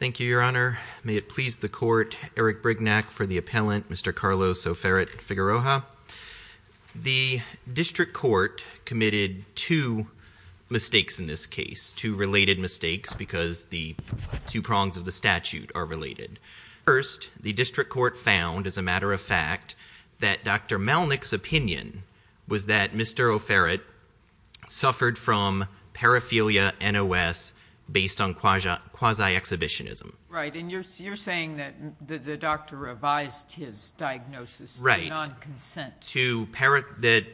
Thank you, Your Honor. May it please the Court, Eric Brignac for the appellant, Mr. Carlos Ofarrit-Figueroa. The District Court committed two mistakes in this case, two related mistakes, because the two prongs of the statute are related. First, the District Court found, as a matter of fact, that Dr. Malnick's opinion was that Mr. Ofarrit suffered from paraphilia NOS based on quasi-exhibitionism. Right, and you're saying that the doctor revised his diagnosis to non-consent. Right, to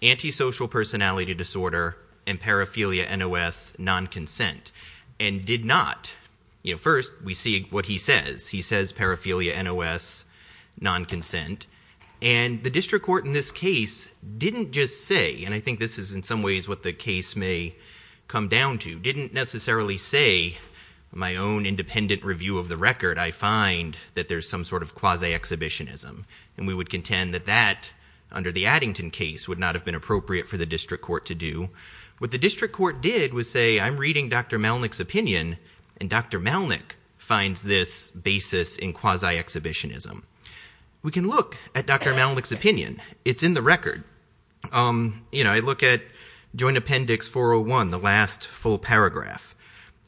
antisocial personality disorder and paraphilia NOS non-consent, and did not. First, we see what he says. He says paraphilia NOS non-consent. And the District Court in this case didn't just say, and I think this is in some ways what the case may come down to, didn't necessarily say, my own independent review of the record, I find that there's some sort of quasi-exhibitionism. And we would contend that that, under the Addington case, would not have been appropriate for the District Court to do. What the District Court did was say, I'm reading Dr. Malnick's opinion, and Dr. Malnick finds this basis in quasi-exhibitionism. We can look at Dr. Malnick's opinion. It's in the record. I look at Joint Appendix 401, the last full paragraph.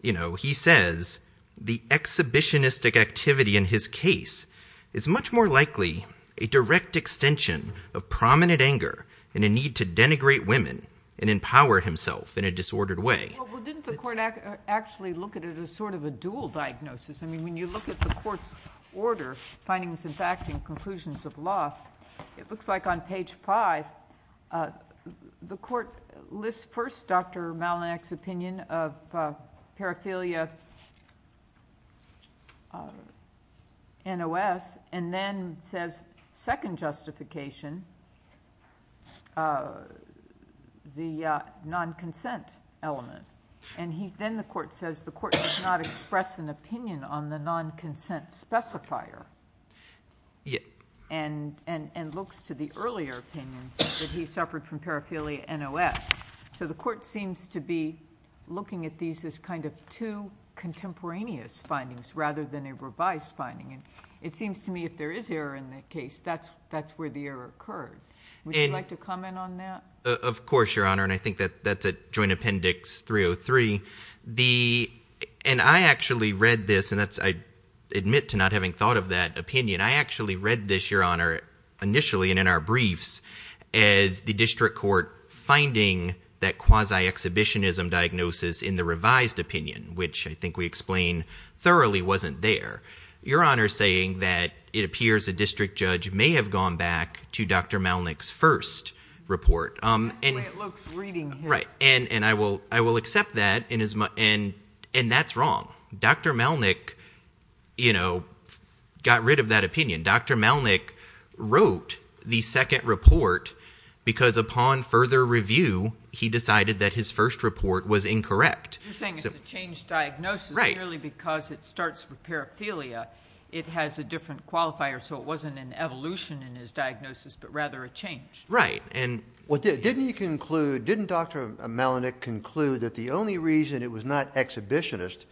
He says, the exhibitionistic activity in his case is much more likely a direct extension of prominent anger and a need to denigrate women and empower himself in a disordered way. Well, didn't the court actually look at it as sort of a dual diagnosis? I mean, when you look at the court's order, findings and fact and conclusions of law, it looks like on page 5, the court lists first Dr. Malnick's opinion of paraphilia NOS, and then says, second justification, the non-consent element. Then the court says the court does not express an opinion on the non-consent specifier and looks to the earlier opinion that he suffered from paraphilia NOS. So the court seems to be looking at these as kind of two contemporaneous findings rather than a revised finding. It seems to me if there is error in the case, that's where the error occurred. Would you like to comment on that? Of course, Your Honor, and I think that's at Joint Appendix 303. And I actually read this, and I admit to not having thought of that opinion. I actually read this, Your Honor, initially and in our briefs, as the district court finding that quasi-exhibitionism diagnosis in the revised opinion, which I think we explained thoroughly wasn't there. Your Honor is saying that it appears a district judge may have gone back to Dr. Malnick's first report. That's the way it looks reading his. Right, and I will accept that, and that's wrong. Dr. Malnick got rid of that opinion. Dr. Malnick wrote the second report because upon further review, he decided that his first report was incorrect. You're saying it's a changed diagnosis merely because it starts with paraphilia. It has a different qualifier, so it wasn't an evolution in his diagnosis but rather a change. Right, and didn't Dr. Malnick conclude that the only reason it was not exhibitionist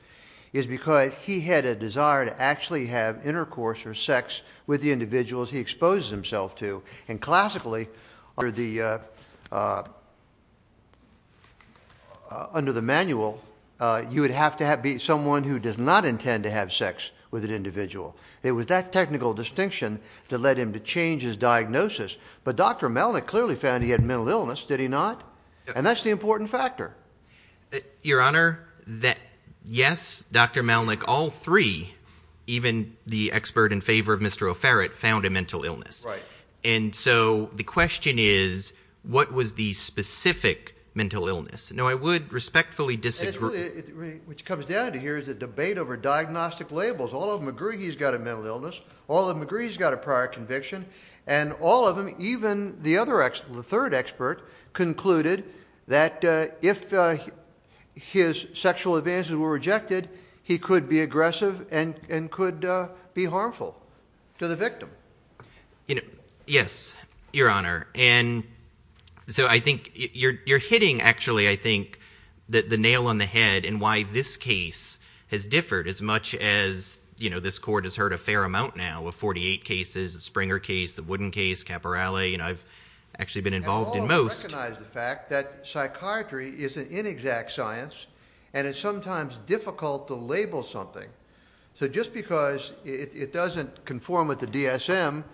is because he had a desire to actually have intercourse or sex with the individuals he exposed himself to? And classically, under the manual, you would have to be someone who does not intend to have sex with an individual. It was that technical distinction that led him to change his diagnosis, but Dr. Malnick clearly found he had mental illness, did he not? And that's the important factor. Your Honor, yes, Dr. Malnick, all three, even the expert in favor of Mr. O'Farrill, found a mental illness. Right. And so the question is, what was the specific mental illness? Now, I would respectfully disagree. What comes down to here is a debate over diagnostic labels. All of them agree he's got a mental illness. All of them agree he's got a prior conviction. And all of them, even the third expert, concluded that if his sexual advances were rejected, he could be aggressive and could be harmful to the victim. Yes, Your Honor. And so I think you're hitting, actually, I think, the nail on the head in why this case has differed as much as this court has heard a fair amount now of 48 cases, the Springer case, the Wooden case, Caporale. I've actually been involved in most. I recognize the fact that psychiatry is an inexact science, and it's sometimes difficult to label something. So just because it doesn't conform with the DSM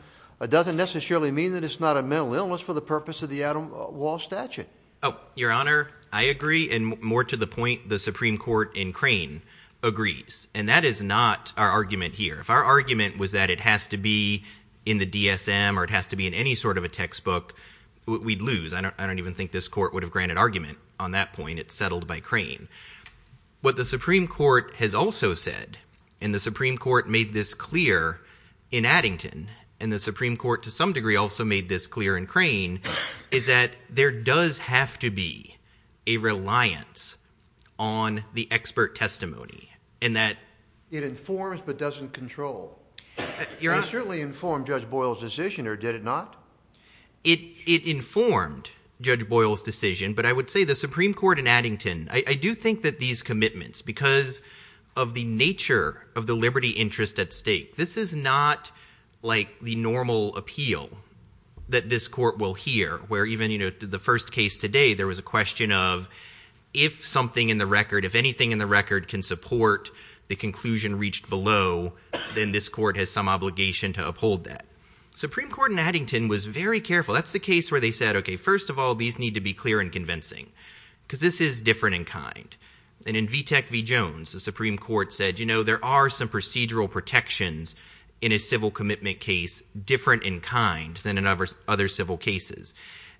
doesn't necessarily mean that it's not a mental illness for the purpose of the Adam Wall statute. Your Honor, I agree, and more to the point, the Supreme Court in Crane agrees. And that is not our argument here. If our argument was that it has to be in the DSM or it has to be in any sort of a textbook, we'd lose. I don't even think this court would have granted argument on that point. It's settled by Crane. What the Supreme Court has also said, and the Supreme Court made this clear in Addington, and the Supreme Court, to some degree, also made this clear in Crane, is that there does have to be a reliance on the expert testimony and that it informs but doesn't control. It certainly informed Judge Boyle's decision, or did it not? It informed Judge Boyle's decision, but I would say the Supreme Court in Addington, I do think that these commitments, because of the nature of the liberty interest at stake, this is not like the normal appeal that this court will hear, where even the first case today, there was a question of if something in the record, if anything in the record can support the conclusion reached below, then this court has some obligation to uphold that. The Supreme Court in Addington was very careful. That's the case where they said, okay, first of all, these need to be clear and convincing, because this is different in kind. And in Vitek v. Jones, the Supreme Court said, you know, there are some procedural protections in a civil commitment case different in kind than in other civil cases.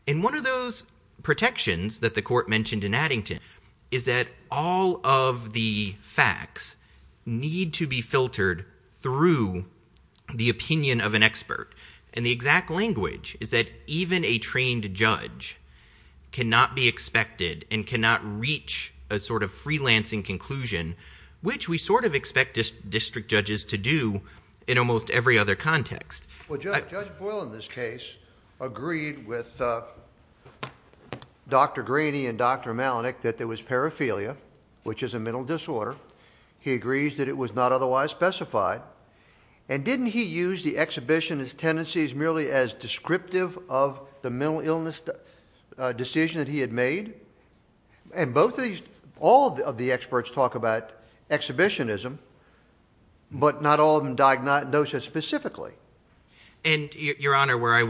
And one of those protections that the court mentioned in Addington is that all of the facts need to be filtered through the opinion of an expert, and the exact language is that even a trained judge cannot be expected and cannot reach a sort of freelancing conclusion, which we sort of expect district judges to do in almost every other context. Well, Judge Boyle in this case agreed with Dr. Graney and Dr. Malenik that there was paraphilia, which is a mental disorder. He agrees that it was not otherwise specified. And didn't he use the exhibitionist tendencies merely as descriptive of the mental illness decision that he had made? And both of these, all of the experts talk about exhibitionism, but not all of them diagnose it specifically. And, Your Honor, where I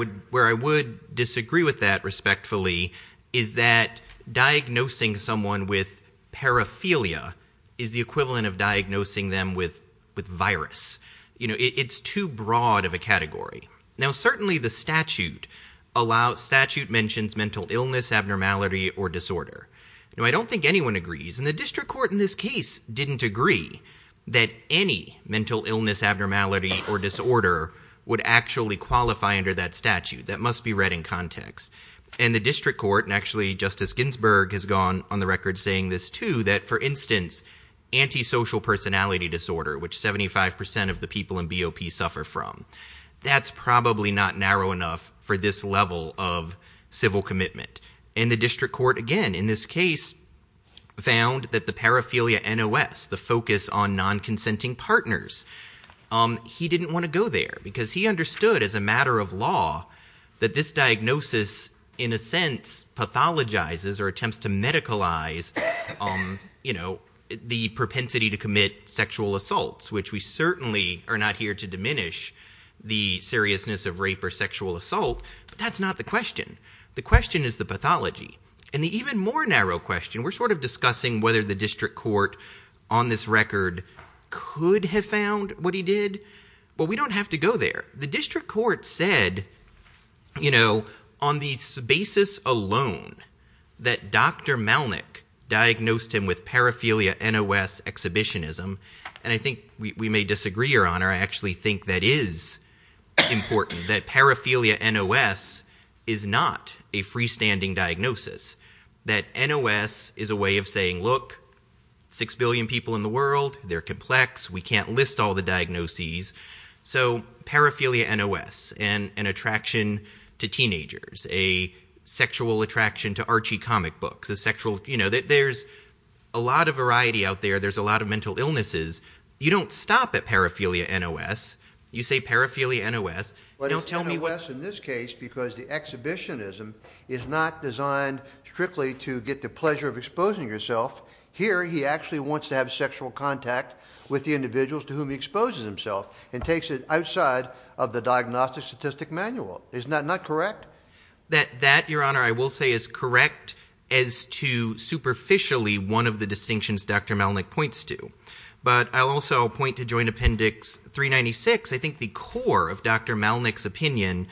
would disagree with that, respectfully, is that diagnosing someone with paraphilia is the equivalent of diagnosing them with virus. You know, it's too broad of a category. Now, certainly the statute mentions mental illness, abnormality, or disorder. Now, I don't think anyone agrees, and the district court in this case didn't agree that any mental illness, abnormality, or disorder would actually qualify under that statute. That must be read in context. And the district court, and actually Justice Ginsburg has gone on the record saying this too, that, for instance, antisocial personality disorder, which 75% of the people in BOP suffer from, that's probably not narrow enough for this level of civil commitment. And the district court, again, in this case, found that the paraphilia NOS, the focus on non-consenting partners, he didn't want to go there because he understood as a matter of law that this diagnosis, in a sense, pathologizes or attempts to medicalize the propensity to commit sexual assaults, which we certainly are not here to diminish the seriousness of rape or sexual assault, but that's not the question. The question is the pathology. And the even more narrow question, we're sort of discussing whether the district court, on this record, could have found what he did. Well, we don't have to go there. The district court said, you know, on this basis alone, that Dr. Malnick diagnosed him with paraphilia NOS exhibitionism. And I think we may disagree, Your Honor. I actually think that is important, that paraphilia NOS is not a freestanding diagnosis, that NOS is a way of saying, look, 6 billion people in the world, they're complex, we can't list all the diagnoses. So paraphilia NOS, an attraction to teenagers, a sexual attraction to Archie comic books, a sexual, you know, there's a lot of variety out there. There's a lot of mental illnesses. You don't stop at paraphilia NOS. You say paraphilia NOS. But it's NOS in this case because the exhibitionism is not designed strictly to get the pleasure of exposing yourself. Here he actually wants to have sexual contact with the individuals to whom he exposes himself and takes it outside of the diagnostic statistic manual. Isn't that not correct? That, Your Honor, I will say is correct as to superficially one of the distinctions Dr. Malnick points to. But I'll also point to Joint Appendix 396. I think the core of Dr. Malnick's opinion,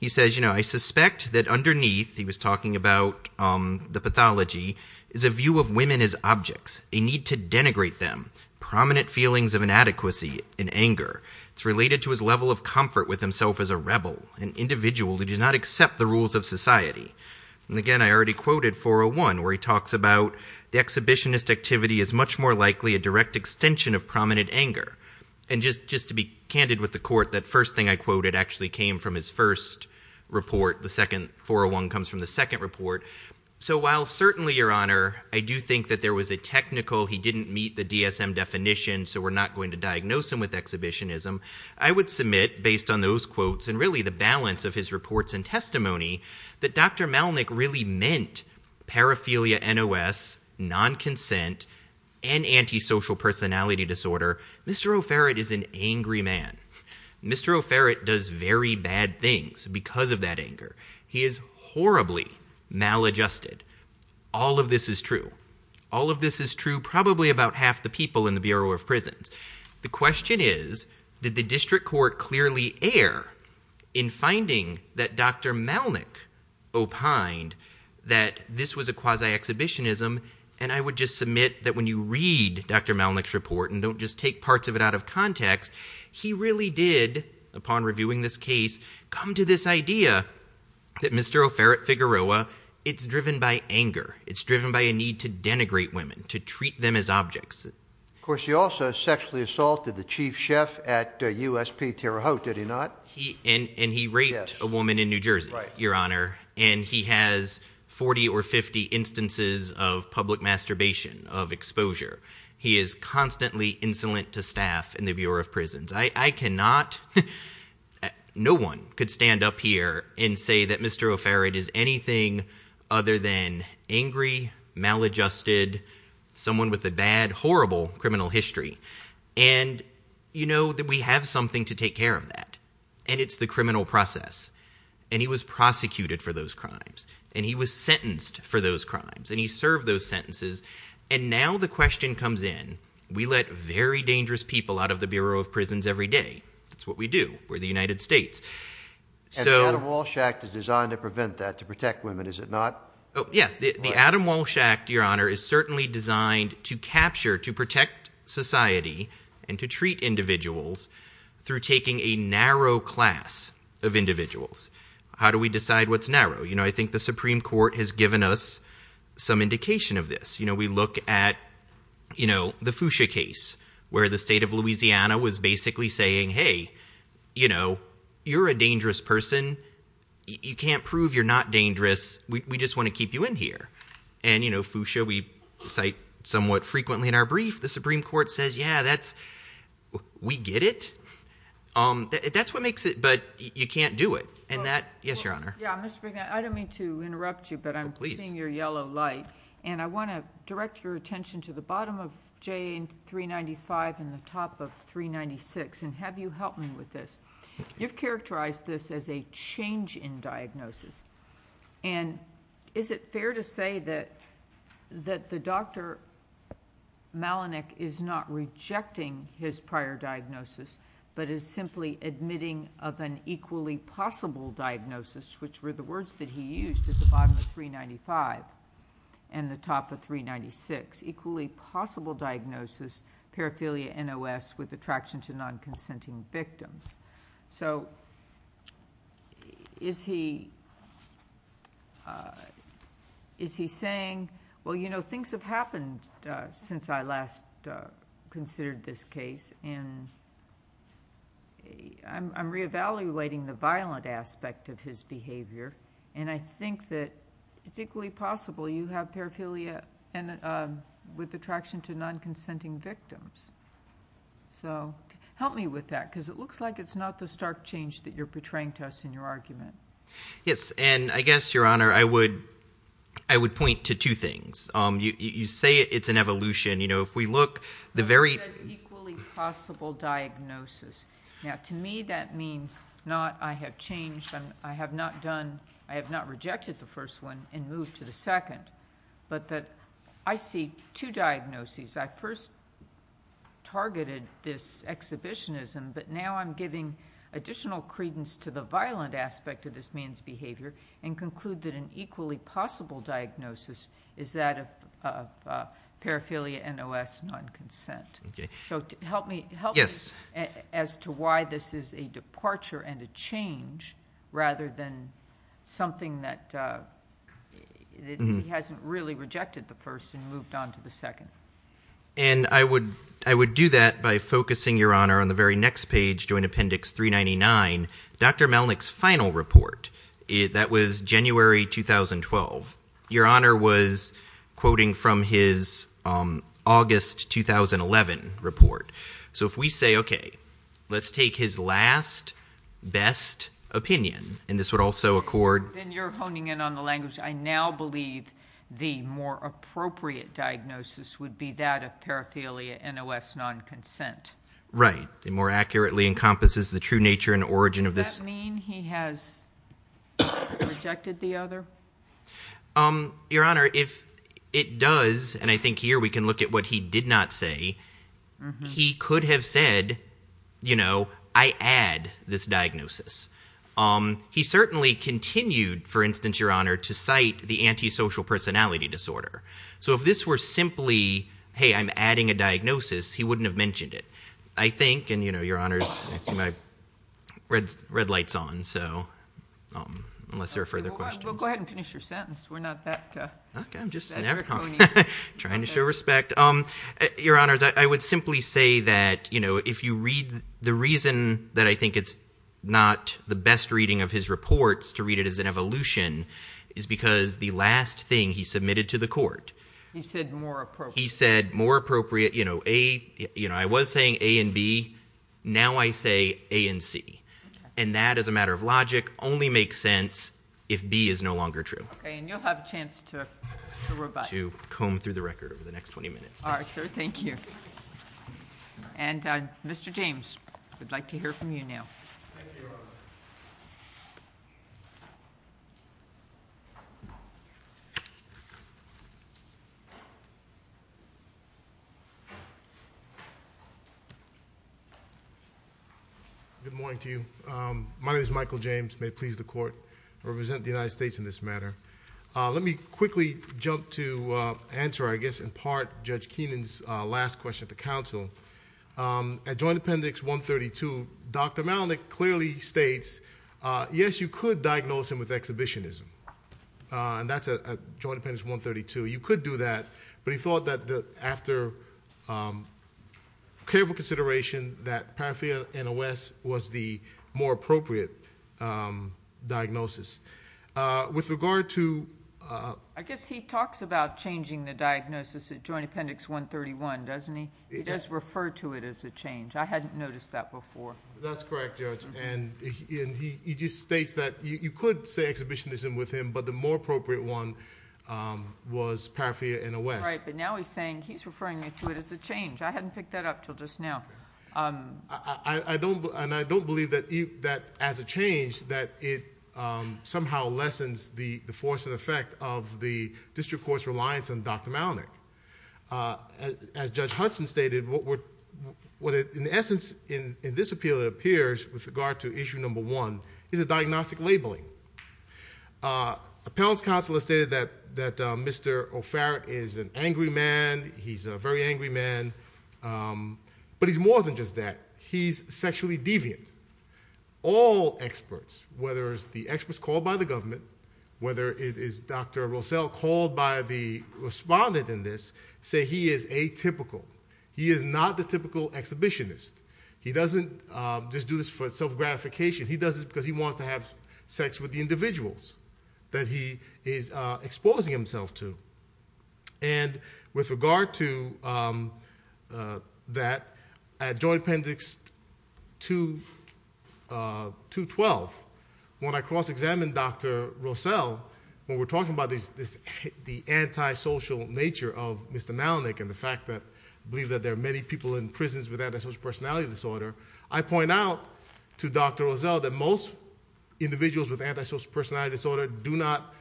he says, you know, I suspect that underneath, he was talking about the pathology, is a view of women as objects, a need to denigrate them, prominent feelings of inadequacy and anger. It's related to his level of comfort with himself as a rebel, an individual who does not accept the rules of society. And again, I already quoted 401 where he talks about the exhibitionist activity is much more likely a direct extension of prominent anger. And just to be candid with the court, that first thing I quoted actually came from his first report. The second 401 comes from the second report. So while certainly, Your Honor, I do think that there was a technical, he didn't meet the DSM definition, so we're not going to diagnose him with exhibitionism, I would submit, based on those quotes and really the balance of his reports and testimony, that Dr. Malnick really meant paraphilia NOS, non-consent, and antisocial personality disorder. Mr. O'Farrill is an angry man. Mr. O'Farrill does very bad things because of that anger. He is horribly maladjusted. All of this is true. All of this is true probably about half the people in the Bureau of Prisons. The question is, did the district court clearly err in finding that Dr. Malnick opined that this was a quasi-exhibitionism, and I would just submit that when you read Dr. Malnick's report and don't just take parts of it out of context, he really did, upon reviewing this case, come to this idea that Mr. O'Farrill at Figueroa, it's driven by anger. It's driven by a need to denigrate women, to treat them as objects. Of course, he also sexually assaulted the chief chef at USP Terre Haute, did he not? And he raped a woman in New Jersey, Your Honor, and he has 40 or 50 instances of public masturbation, of exposure. He is constantly insolent to staff in the Bureau of Prisons. I cannot, no one could stand up here and say that Mr. O'Farrill is anything other than angry, maladjusted, someone with a bad, horrible criminal history, and you know that we have something to take care of that, and it's the criminal process, and he was prosecuted for those crimes, and he was sentenced for those crimes, and he served those sentences, and now the question comes in, we let very dangerous people out of the Bureau of Prisons every day. That's what we do. We're the United States. And the Adam Walsh Act is designed to prevent that, to protect women, is it not? Yes, the Adam Walsh Act, Your Honor, is certainly designed to capture, to protect society and to treat individuals through taking a narrow class of individuals. How do we decide what's narrow? You know, I think the Supreme Court has given us some indication of this. You know, we look at, you know, the Fuchsia case, where the state of Louisiana was basically saying, hey, you know, you're a dangerous person, you can't prove you're not dangerous, we just want to keep you in here. And, you know, Fuchsia, we cite somewhat frequently in our brief, the Supreme Court says, yeah, that's, we get it. That's what makes it, but you can't do it. And that, yes, Your Honor. Yeah, Mr. Brignan, I don't mean to interrupt you, but I'm seeing your yellow light. And I want to direct your attention to the bottom of J395 and the top of 396 and have you help me with this. You've characterized this as a change in diagnosis. And is it fair to say that the Dr. Malenik is not rejecting his prior diagnosis, but is simply admitting of an equally possible diagnosis, which were the words that he used at the bottom of 395 and the top of 396, equally possible diagnosis, paraphilia NOS with attraction to non-consenting victims. So, is he saying, well, you know, things have happened since I last considered this case. And I'm reevaluating the violent aspect of his behavior. And I think that it's equally possible you have paraphilia with attraction to non-consenting victims. So, help me with that, because it looks like it's not the stark change that you're portraying to us in your argument. Yes, and I guess, Your Honor, I would point to two things. You say it's an evolution. You know, if we look, the very- Equally possible diagnosis. Now, to me, that means not I have changed, I have not done, I have not rejected the first one and moved to the second, but that I see two diagnoses. I first targeted this exhibitionism, but now I'm giving additional credence to the violent aspect of this man's behavior and conclude that an equally possible diagnosis is that of paraphilia NOS non-consent. Okay. So, help me- Yes. As to why this is a departure and a change rather than something that he hasn't really rejected the first and moved on to the second. And I would do that by focusing, Your Honor, on the very next page, Joint Appendix 399, Dr. Malnick's final report. That was January 2012. Your Honor was quoting from his August 2011 report. So, if we say, okay, let's take his last best opinion, and this would also accord- Then you're honing in on the language. I now believe the more appropriate diagnosis would be that of paraphilia NOS non-consent. Right. It more accurately encompasses the true nature and origin of this- Does that mean he has rejected the other? Your Honor, if it does, and I think here we can look at what he did not say, he could have said, you know, I add this diagnosis. He certainly continued, for instance, Your Honor, to cite the antisocial personality disorder. So, if this were simply, hey, I'm adding a diagnosis, he wouldn't have mentioned it. I think, and, you know, Your Honors, I see my red light's on, so, unless there are further questions. Well, go ahead and finish your sentence. We're not that- Okay, I'm just trying to show respect. Your Honors, I would simply say that, you know, if you read- The reason that I think it's not the best reading of his reports to read it as an evolution is because the last thing he submitted to the court- He said more appropriate. You know, I was saying A and B, now I say A and C. And that, as a matter of logic, only makes sense if B is no longer true. Okay, and you'll have a chance to revise. To comb through the record over the next 20 minutes. All right, sir, thank you. And Mr. James, we'd like to hear from you now. Thank you, Your Honor. Good morning to you. My name is Michael James. May it please the Court. I represent the United States in this matter. Let me quickly jump to answer, I guess, in part, Judge Keenan's last question to counsel. At Joint Appendix 132, Dr. Malnick clearly states, yes, you could diagnose him with exhibitionism. And that's at Joint Appendix 132. You could do that. But he thought that after careful consideration that paraffin NOS was the more appropriate diagnosis. With regard to- I guess he talks about changing the diagnosis at Joint Appendix 131, doesn't he? He does refer to it as a change. I hadn't noticed that before. That's correct, Judge. He just states that you could say exhibitionism with him, but the more appropriate one was paraffin NOS. Right, but now he's saying he's referring to it as a change. I hadn't picked that up until just now. I don't believe that as a change that it somehow lessens the force and effect of the district court's reliance on Dr. Malnick. As Judge Hudson stated, what in essence in this appeal appears with regard to issue number one is a diagnostic labeling. Appellant's counsel has stated that Mr. O'Farrill is an angry man. He's a very angry man. But he's more than just that. He's sexually deviant. All experts, whether it's the experts called by the government, whether it is Dr. Rossell called by the respondent in this, say he is atypical. He is not the typical exhibitionist. He doesn't just do this for self-gratification. He does this because he wants to have sex with the individuals that he is exposing himself to. With regard to that, at Joint Appendix 212, when I cross-examined Dr. Rossell, when we're talking about the antisocial nature of Mr. Malnick and the fact that I believe that there are many people in prisons with antisocial personality disorder, I point out to Dr. Rossell that most individuals with antisocial personality disorder do not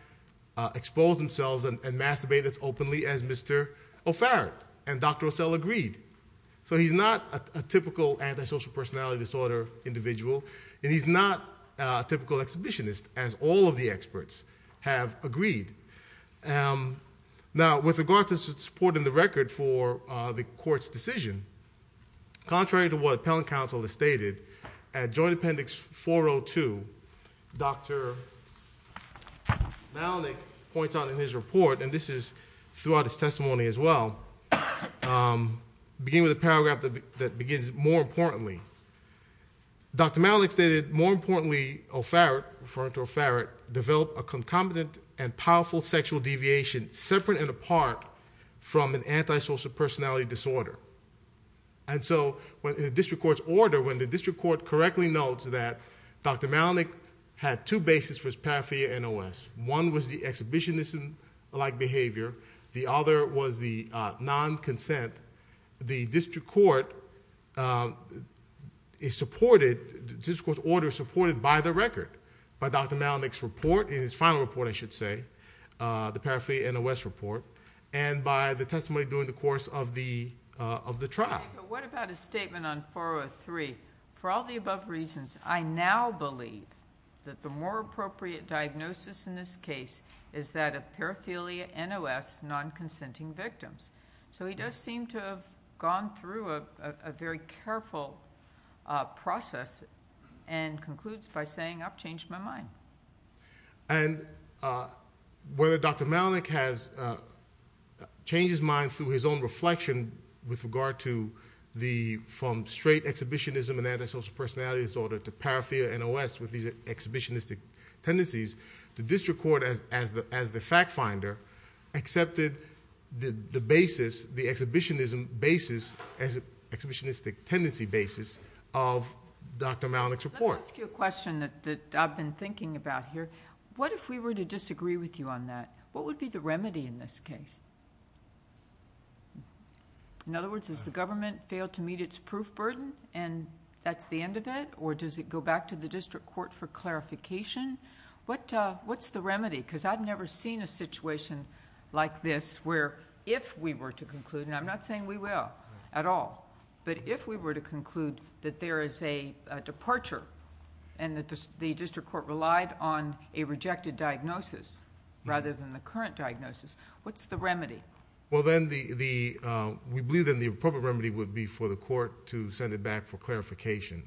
expose themselves and masturbate as openly as Mr. O'Farrill. And Dr. Rossell agreed. So he's not a typical antisocial personality disorder individual. And he's not a typical exhibitionist, as all of the experts have agreed. Now, with regard to supporting the record for the court's decision, contrary to what Appellant Counsel has stated, at Joint Appendix 402, Dr. Malnick points out in his report, and this is throughout his testimony as well, beginning with a paragraph that begins, Dr. Malnick stated, more importantly, O'Farrill, referring to O'Farrill, developed a concomitant and powerful sexual deviation separate and apart from an antisocial personality disorder. And so, in the district court's order, when the district court correctly notes that Dr. Malnick had two bases for his paraphernalia NOS, one was the exhibitionism-like behavior, the other was the non-consent, the district court's order is supported by the record, by Dr. Malnick's report, his final report, I should say, the paraphernalia NOS report, and by the testimony during the course of the trial. What about his statement on 403? For all the above reasons, I now believe that the more appropriate diagnosis in this case is that of paraphernalia NOS non-consenting victims. So he does seem to have gone through a very careful process and concludes by saying, I've changed my mind. And whether Dr. Malnick has changed his mind through his own reflection with regard to the, from straight exhibitionism and antisocial personality disorder to paraphernalia NOS with these exhibitionistic tendencies, the district court, as the fact finder, accepted the basis, the exhibitionism basis, exhibitionistic tendency basis of Dr. Malnick's report. Let me ask you a question that I've been thinking about here. What if we were to disagree with you on that? What would be the remedy in this case? In other words, has the government failed to meet its proof burden and that's the end of it? Or does it go back to the district court for clarification? What's the remedy? Because I've never seen a situation like this where if we were to conclude, and I'm not saying we will at all, but if we were to conclude that there is a departure and that the district court relied on a rejected diagnosis rather than the current diagnosis, what's the remedy? Well, then the, we believe that the appropriate remedy would be for the court to send it back for clarification,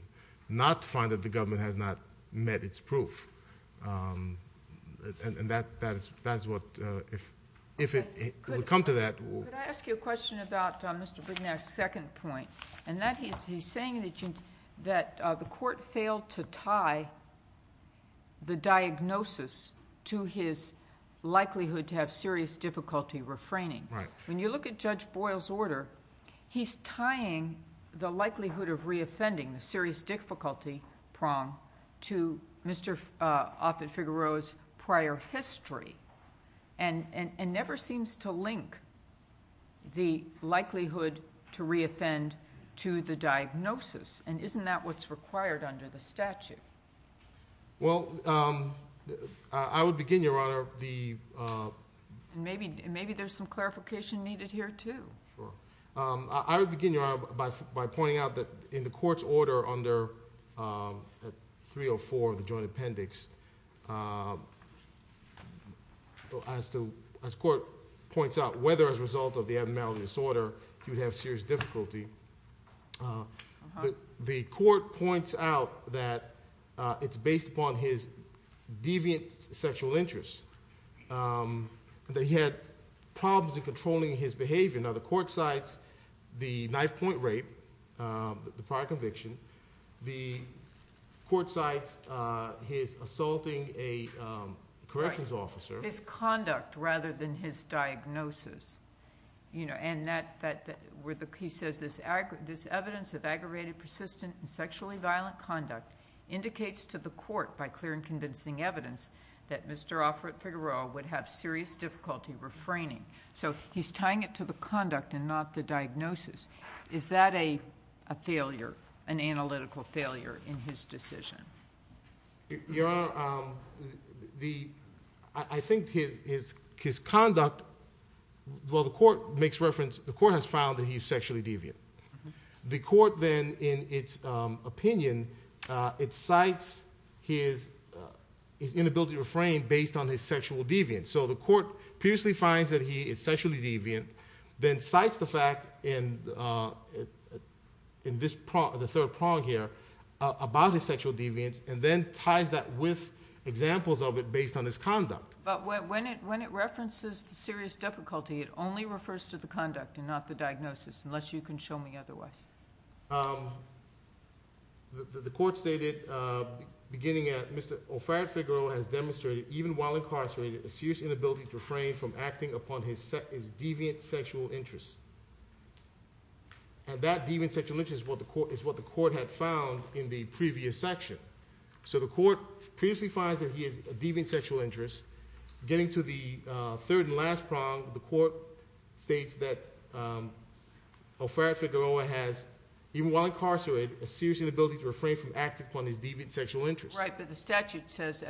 not to find that the government has not met its proof. And that is what, if it would come to that. Could I ask you a question about Mr. Brignac's second point? He's saying that the court failed to tie the diagnosis to his likelihood to have serious difficulty refraining. When you look at Judge Boyle's order, he's tying the likelihood of re-offending, the serious difficulty prong, to Mr. Offit-Figueroa's prior history. And never seems to link the likelihood to re-offend to the diagnosis. And isn't that what's required under the statute? Well, I would begin, Your Honor. Maybe there's some clarification needed here, too. I would begin, Your Honor, by pointing out that in the court's order under 304, the joint appendix, as court points out, whether as a result of the abnormality disorder, you would have serious difficulty, the court points out that it's based upon his deviant sexual interests. That he had problems in controlling his behavior. Now, the court cites the knife point rape, the prior conviction. The court cites his assaulting a corrections officer. His conduct rather than his diagnosis. And he says this evidence of aggravated, persistent, and sexually violent conduct indicates to the court by clear and convincing evidence that Mr. Offit-Figueroa would have serious difficulty refraining. So, he's tying it to the conduct and not the diagnosis. Is that a failure, an analytical failure in his decision? Your Honor, I think his conduct, well, the court makes reference, the court has found that he's sexually deviant. The court then, in its opinion, it cites his inability to refrain based on his sexual deviance. So, the court previously finds that he is sexually deviant, then cites the fact in the third prong here about his sexual deviance, and then ties that with examples of it based on his conduct. But when it references the serious difficulty, it only refers to the conduct and not the diagnosis, unless you can show me otherwise. The court stated, beginning at Mr. Offit-Figueroa has demonstrated, even while incarcerated, a serious inability to refrain from acting upon his deviant sexual interests. And that deviant sexual interest is what the court had found in the previous section. So, the court previously finds that he has a deviant sexual interest. Getting to the third and last prong, the court states that Offit-Figueroa has, even while incarcerated, a serious inability to refrain from acting upon his deviant sexual interest. Right, but the statute says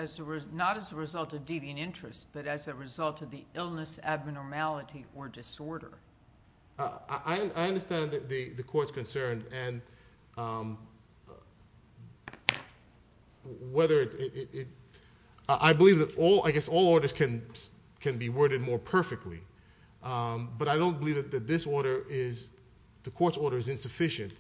not as a result of deviant interest, but as a result of the illness, abnormality, or disorder. I understand the court's concern, and whether it, I believe that all, I guess all orders can be worded more perfectly. But I don't believe that this order is, the court's order is insufficient.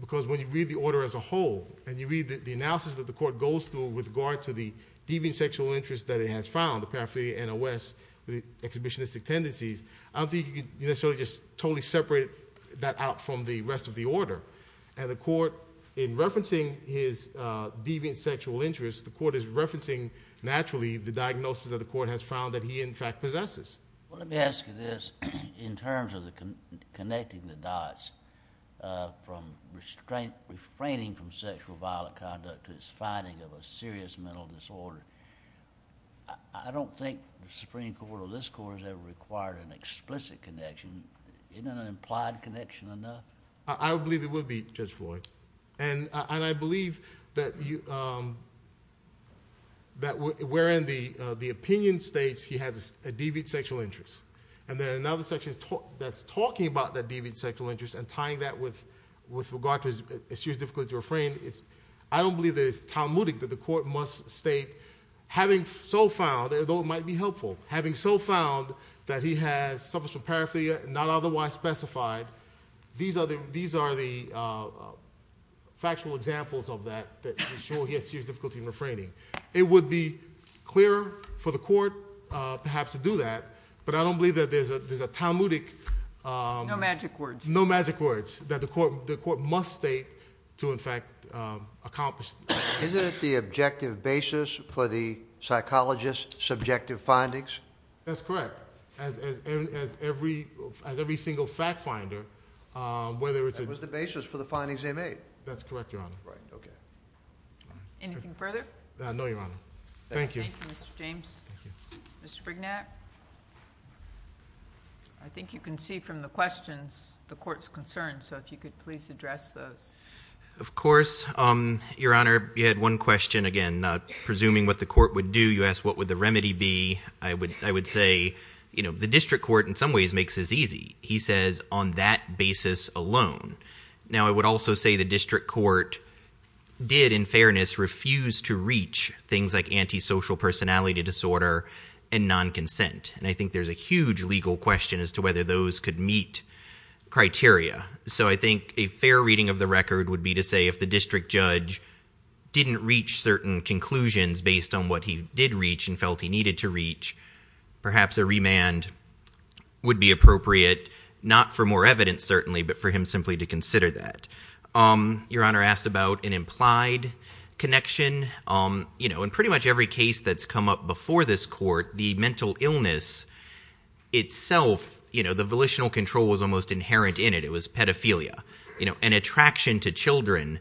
Because when you read the order as a whole, and you read the analysis that the court goes through with regard to the deviant sexual interest that it has found, the paraphernalia and OS, the exhibitionistic tendencies, I don't think you can necessarily just totally separate that out from the rest of the order. And the court, in referencing his deviant sexual interest, the court is referencing, naturally, the diagnosis that the court has found that he, in fact, possesses. Well, let me ask you this, in terms of connecting the dots, from refraining from sexual violent conduct to his finding of a serious mental disorder, I don't think the Supreme Court or this court has ever required an explicit connection. Isn't an implied connection enough? I believe it will be, Judge Floyd. And I believe that where the opinion states he has a deviant sexual interest, and then another section that's talking about that deviant sexual interest, I don't believe that it's Talmudic that the court must state, having so found, although it might be helpful, having so found that he suffers from paraphernalia not otherwise specified, these are the factual examples of that, that show he has serious difficulty in refraining. It would be clearer for the court, perhaps, to do that, but I don't believe that there's a Talmudic- No magic words. No magic words that the court must state to, in fact, accomplish that. Isn't it the objective basis for the psychologist's subjective findings? That's correct. As every single fact finder, whether it's a- That was the basis for the findings they made. That's correct, Your Honor. Right, okay. Anything further? No, Your Honor. Thank you. Thank you, Mr. James. Thank you. Mr. Brignac? I think you can see from the questions the court's concerns, so if you could please address those. Of course, Your Honor. You had one question, again, presuming what the court would do. You asked what would the remedy be. I would say, you know, the district court, in some ways, makes this easy. He says, on that basis alone. Now, I would also say the district court did, in fairness, refuse to reach things like antisocial personality disorder and non-consent. And I think there's a huge legal question as to whether those could meet criteria. So I think a fair reading of the record would be to say if the district judge didn't reach certain conclusions based on what he did reach and felt he needed to reach, perhaps a remand would be appropriate, not for more evidence, certainly, but for him simply to consider that. Your Honor asked about an implied connection. You know, in pretty much every case that's come up before this court, the mental illness itself, you know, the volitional control was almost inherent in it. It was pedophilia, you know, an attraction to children.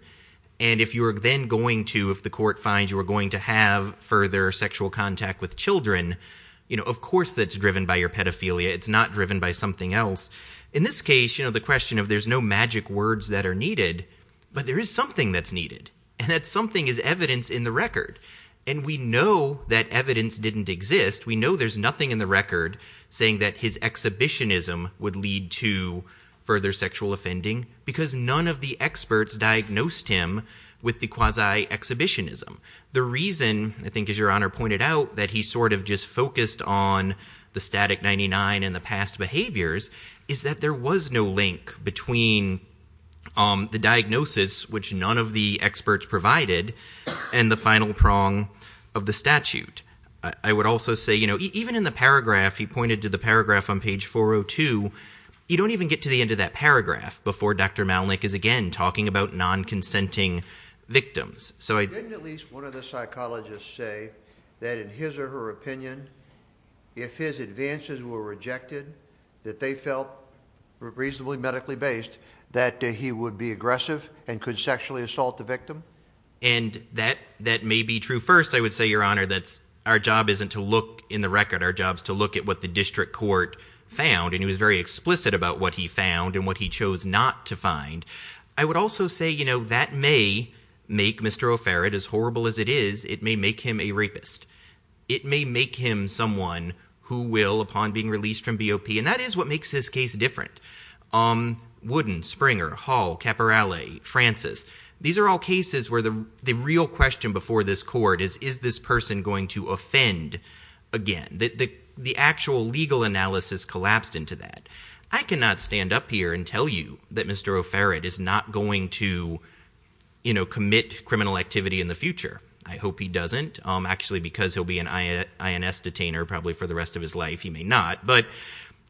And if you were then going to, if the court finds you were going to have further sexual contact with children, you know, of course that's driven by your pedophilia. It's not driven by something else. In this case, you know, the question of there's no magic words that are needed, but there is something that's needed, and that something is evidence in the record. And we know that evidence didn't exist. We know there's nothing in the record saying that his exhibitionism would lead to further sexual offending because none of the experts diagnosed him with the quasi-exhibitionism. The reason, I think as Your Honor pointed out, that he sort of just focused on the static 99 and the past behaviors is that there was no link between the diagnosis, which none of the experts provided, and the final prong of the statute. I would also say, you know, even in the paragraph, he pointed to the paragraph on page 402, you don't even get to the end of that paragraph before Dr. Malnick is again talking about non-consenting victims. Didn't at least one of the psychologists say that in his or her opinion, if his advances were rejected, that they felt reasonably medically based, that he would be aggressive and could sexually assault the victim? And that may be true. First, I would say, Your Honor, that our job isn't to look in the record. Our job is to look at what the district court found, and he was very explicit about what he found and what he chose not to find. I would also say, you know, that may make Mr. O'Farrill as horrible as it is. It may make him a rapist. It may make him someone who will, upon being released from BOP, and that is what makes this case different. Wooden, Springer, Hall, Caporale, Francis, these are all cases where the real question before this court is, is this person going to offend again? The actual legal analysis collapsed into that. I cannot stand up here and tell you that Mr. O'Farrill is not going to, you know, commit criminal activity in the future. I hope he doesn't. Actually, because he'll be an INS detainer probably for the rest of his life, he may not. But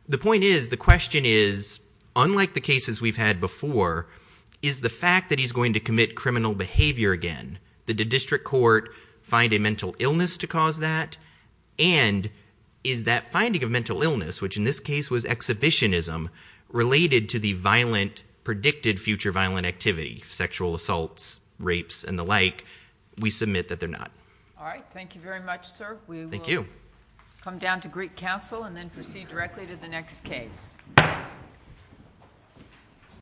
the point is, the question is, unlike the cases we've had before, is the fact that he's going to commit criminal behavior again, did the district court find a mental illness to cause that? And is that finding of mental illness, which in this case was exhibitionism, related to the violent, predicted future violent activity, sexual assaults, rapes, and the like? We submit that they're not. All right. Thank you very much, sir. Thank you. We will come down to Greek Council and then proceed directly to the next case.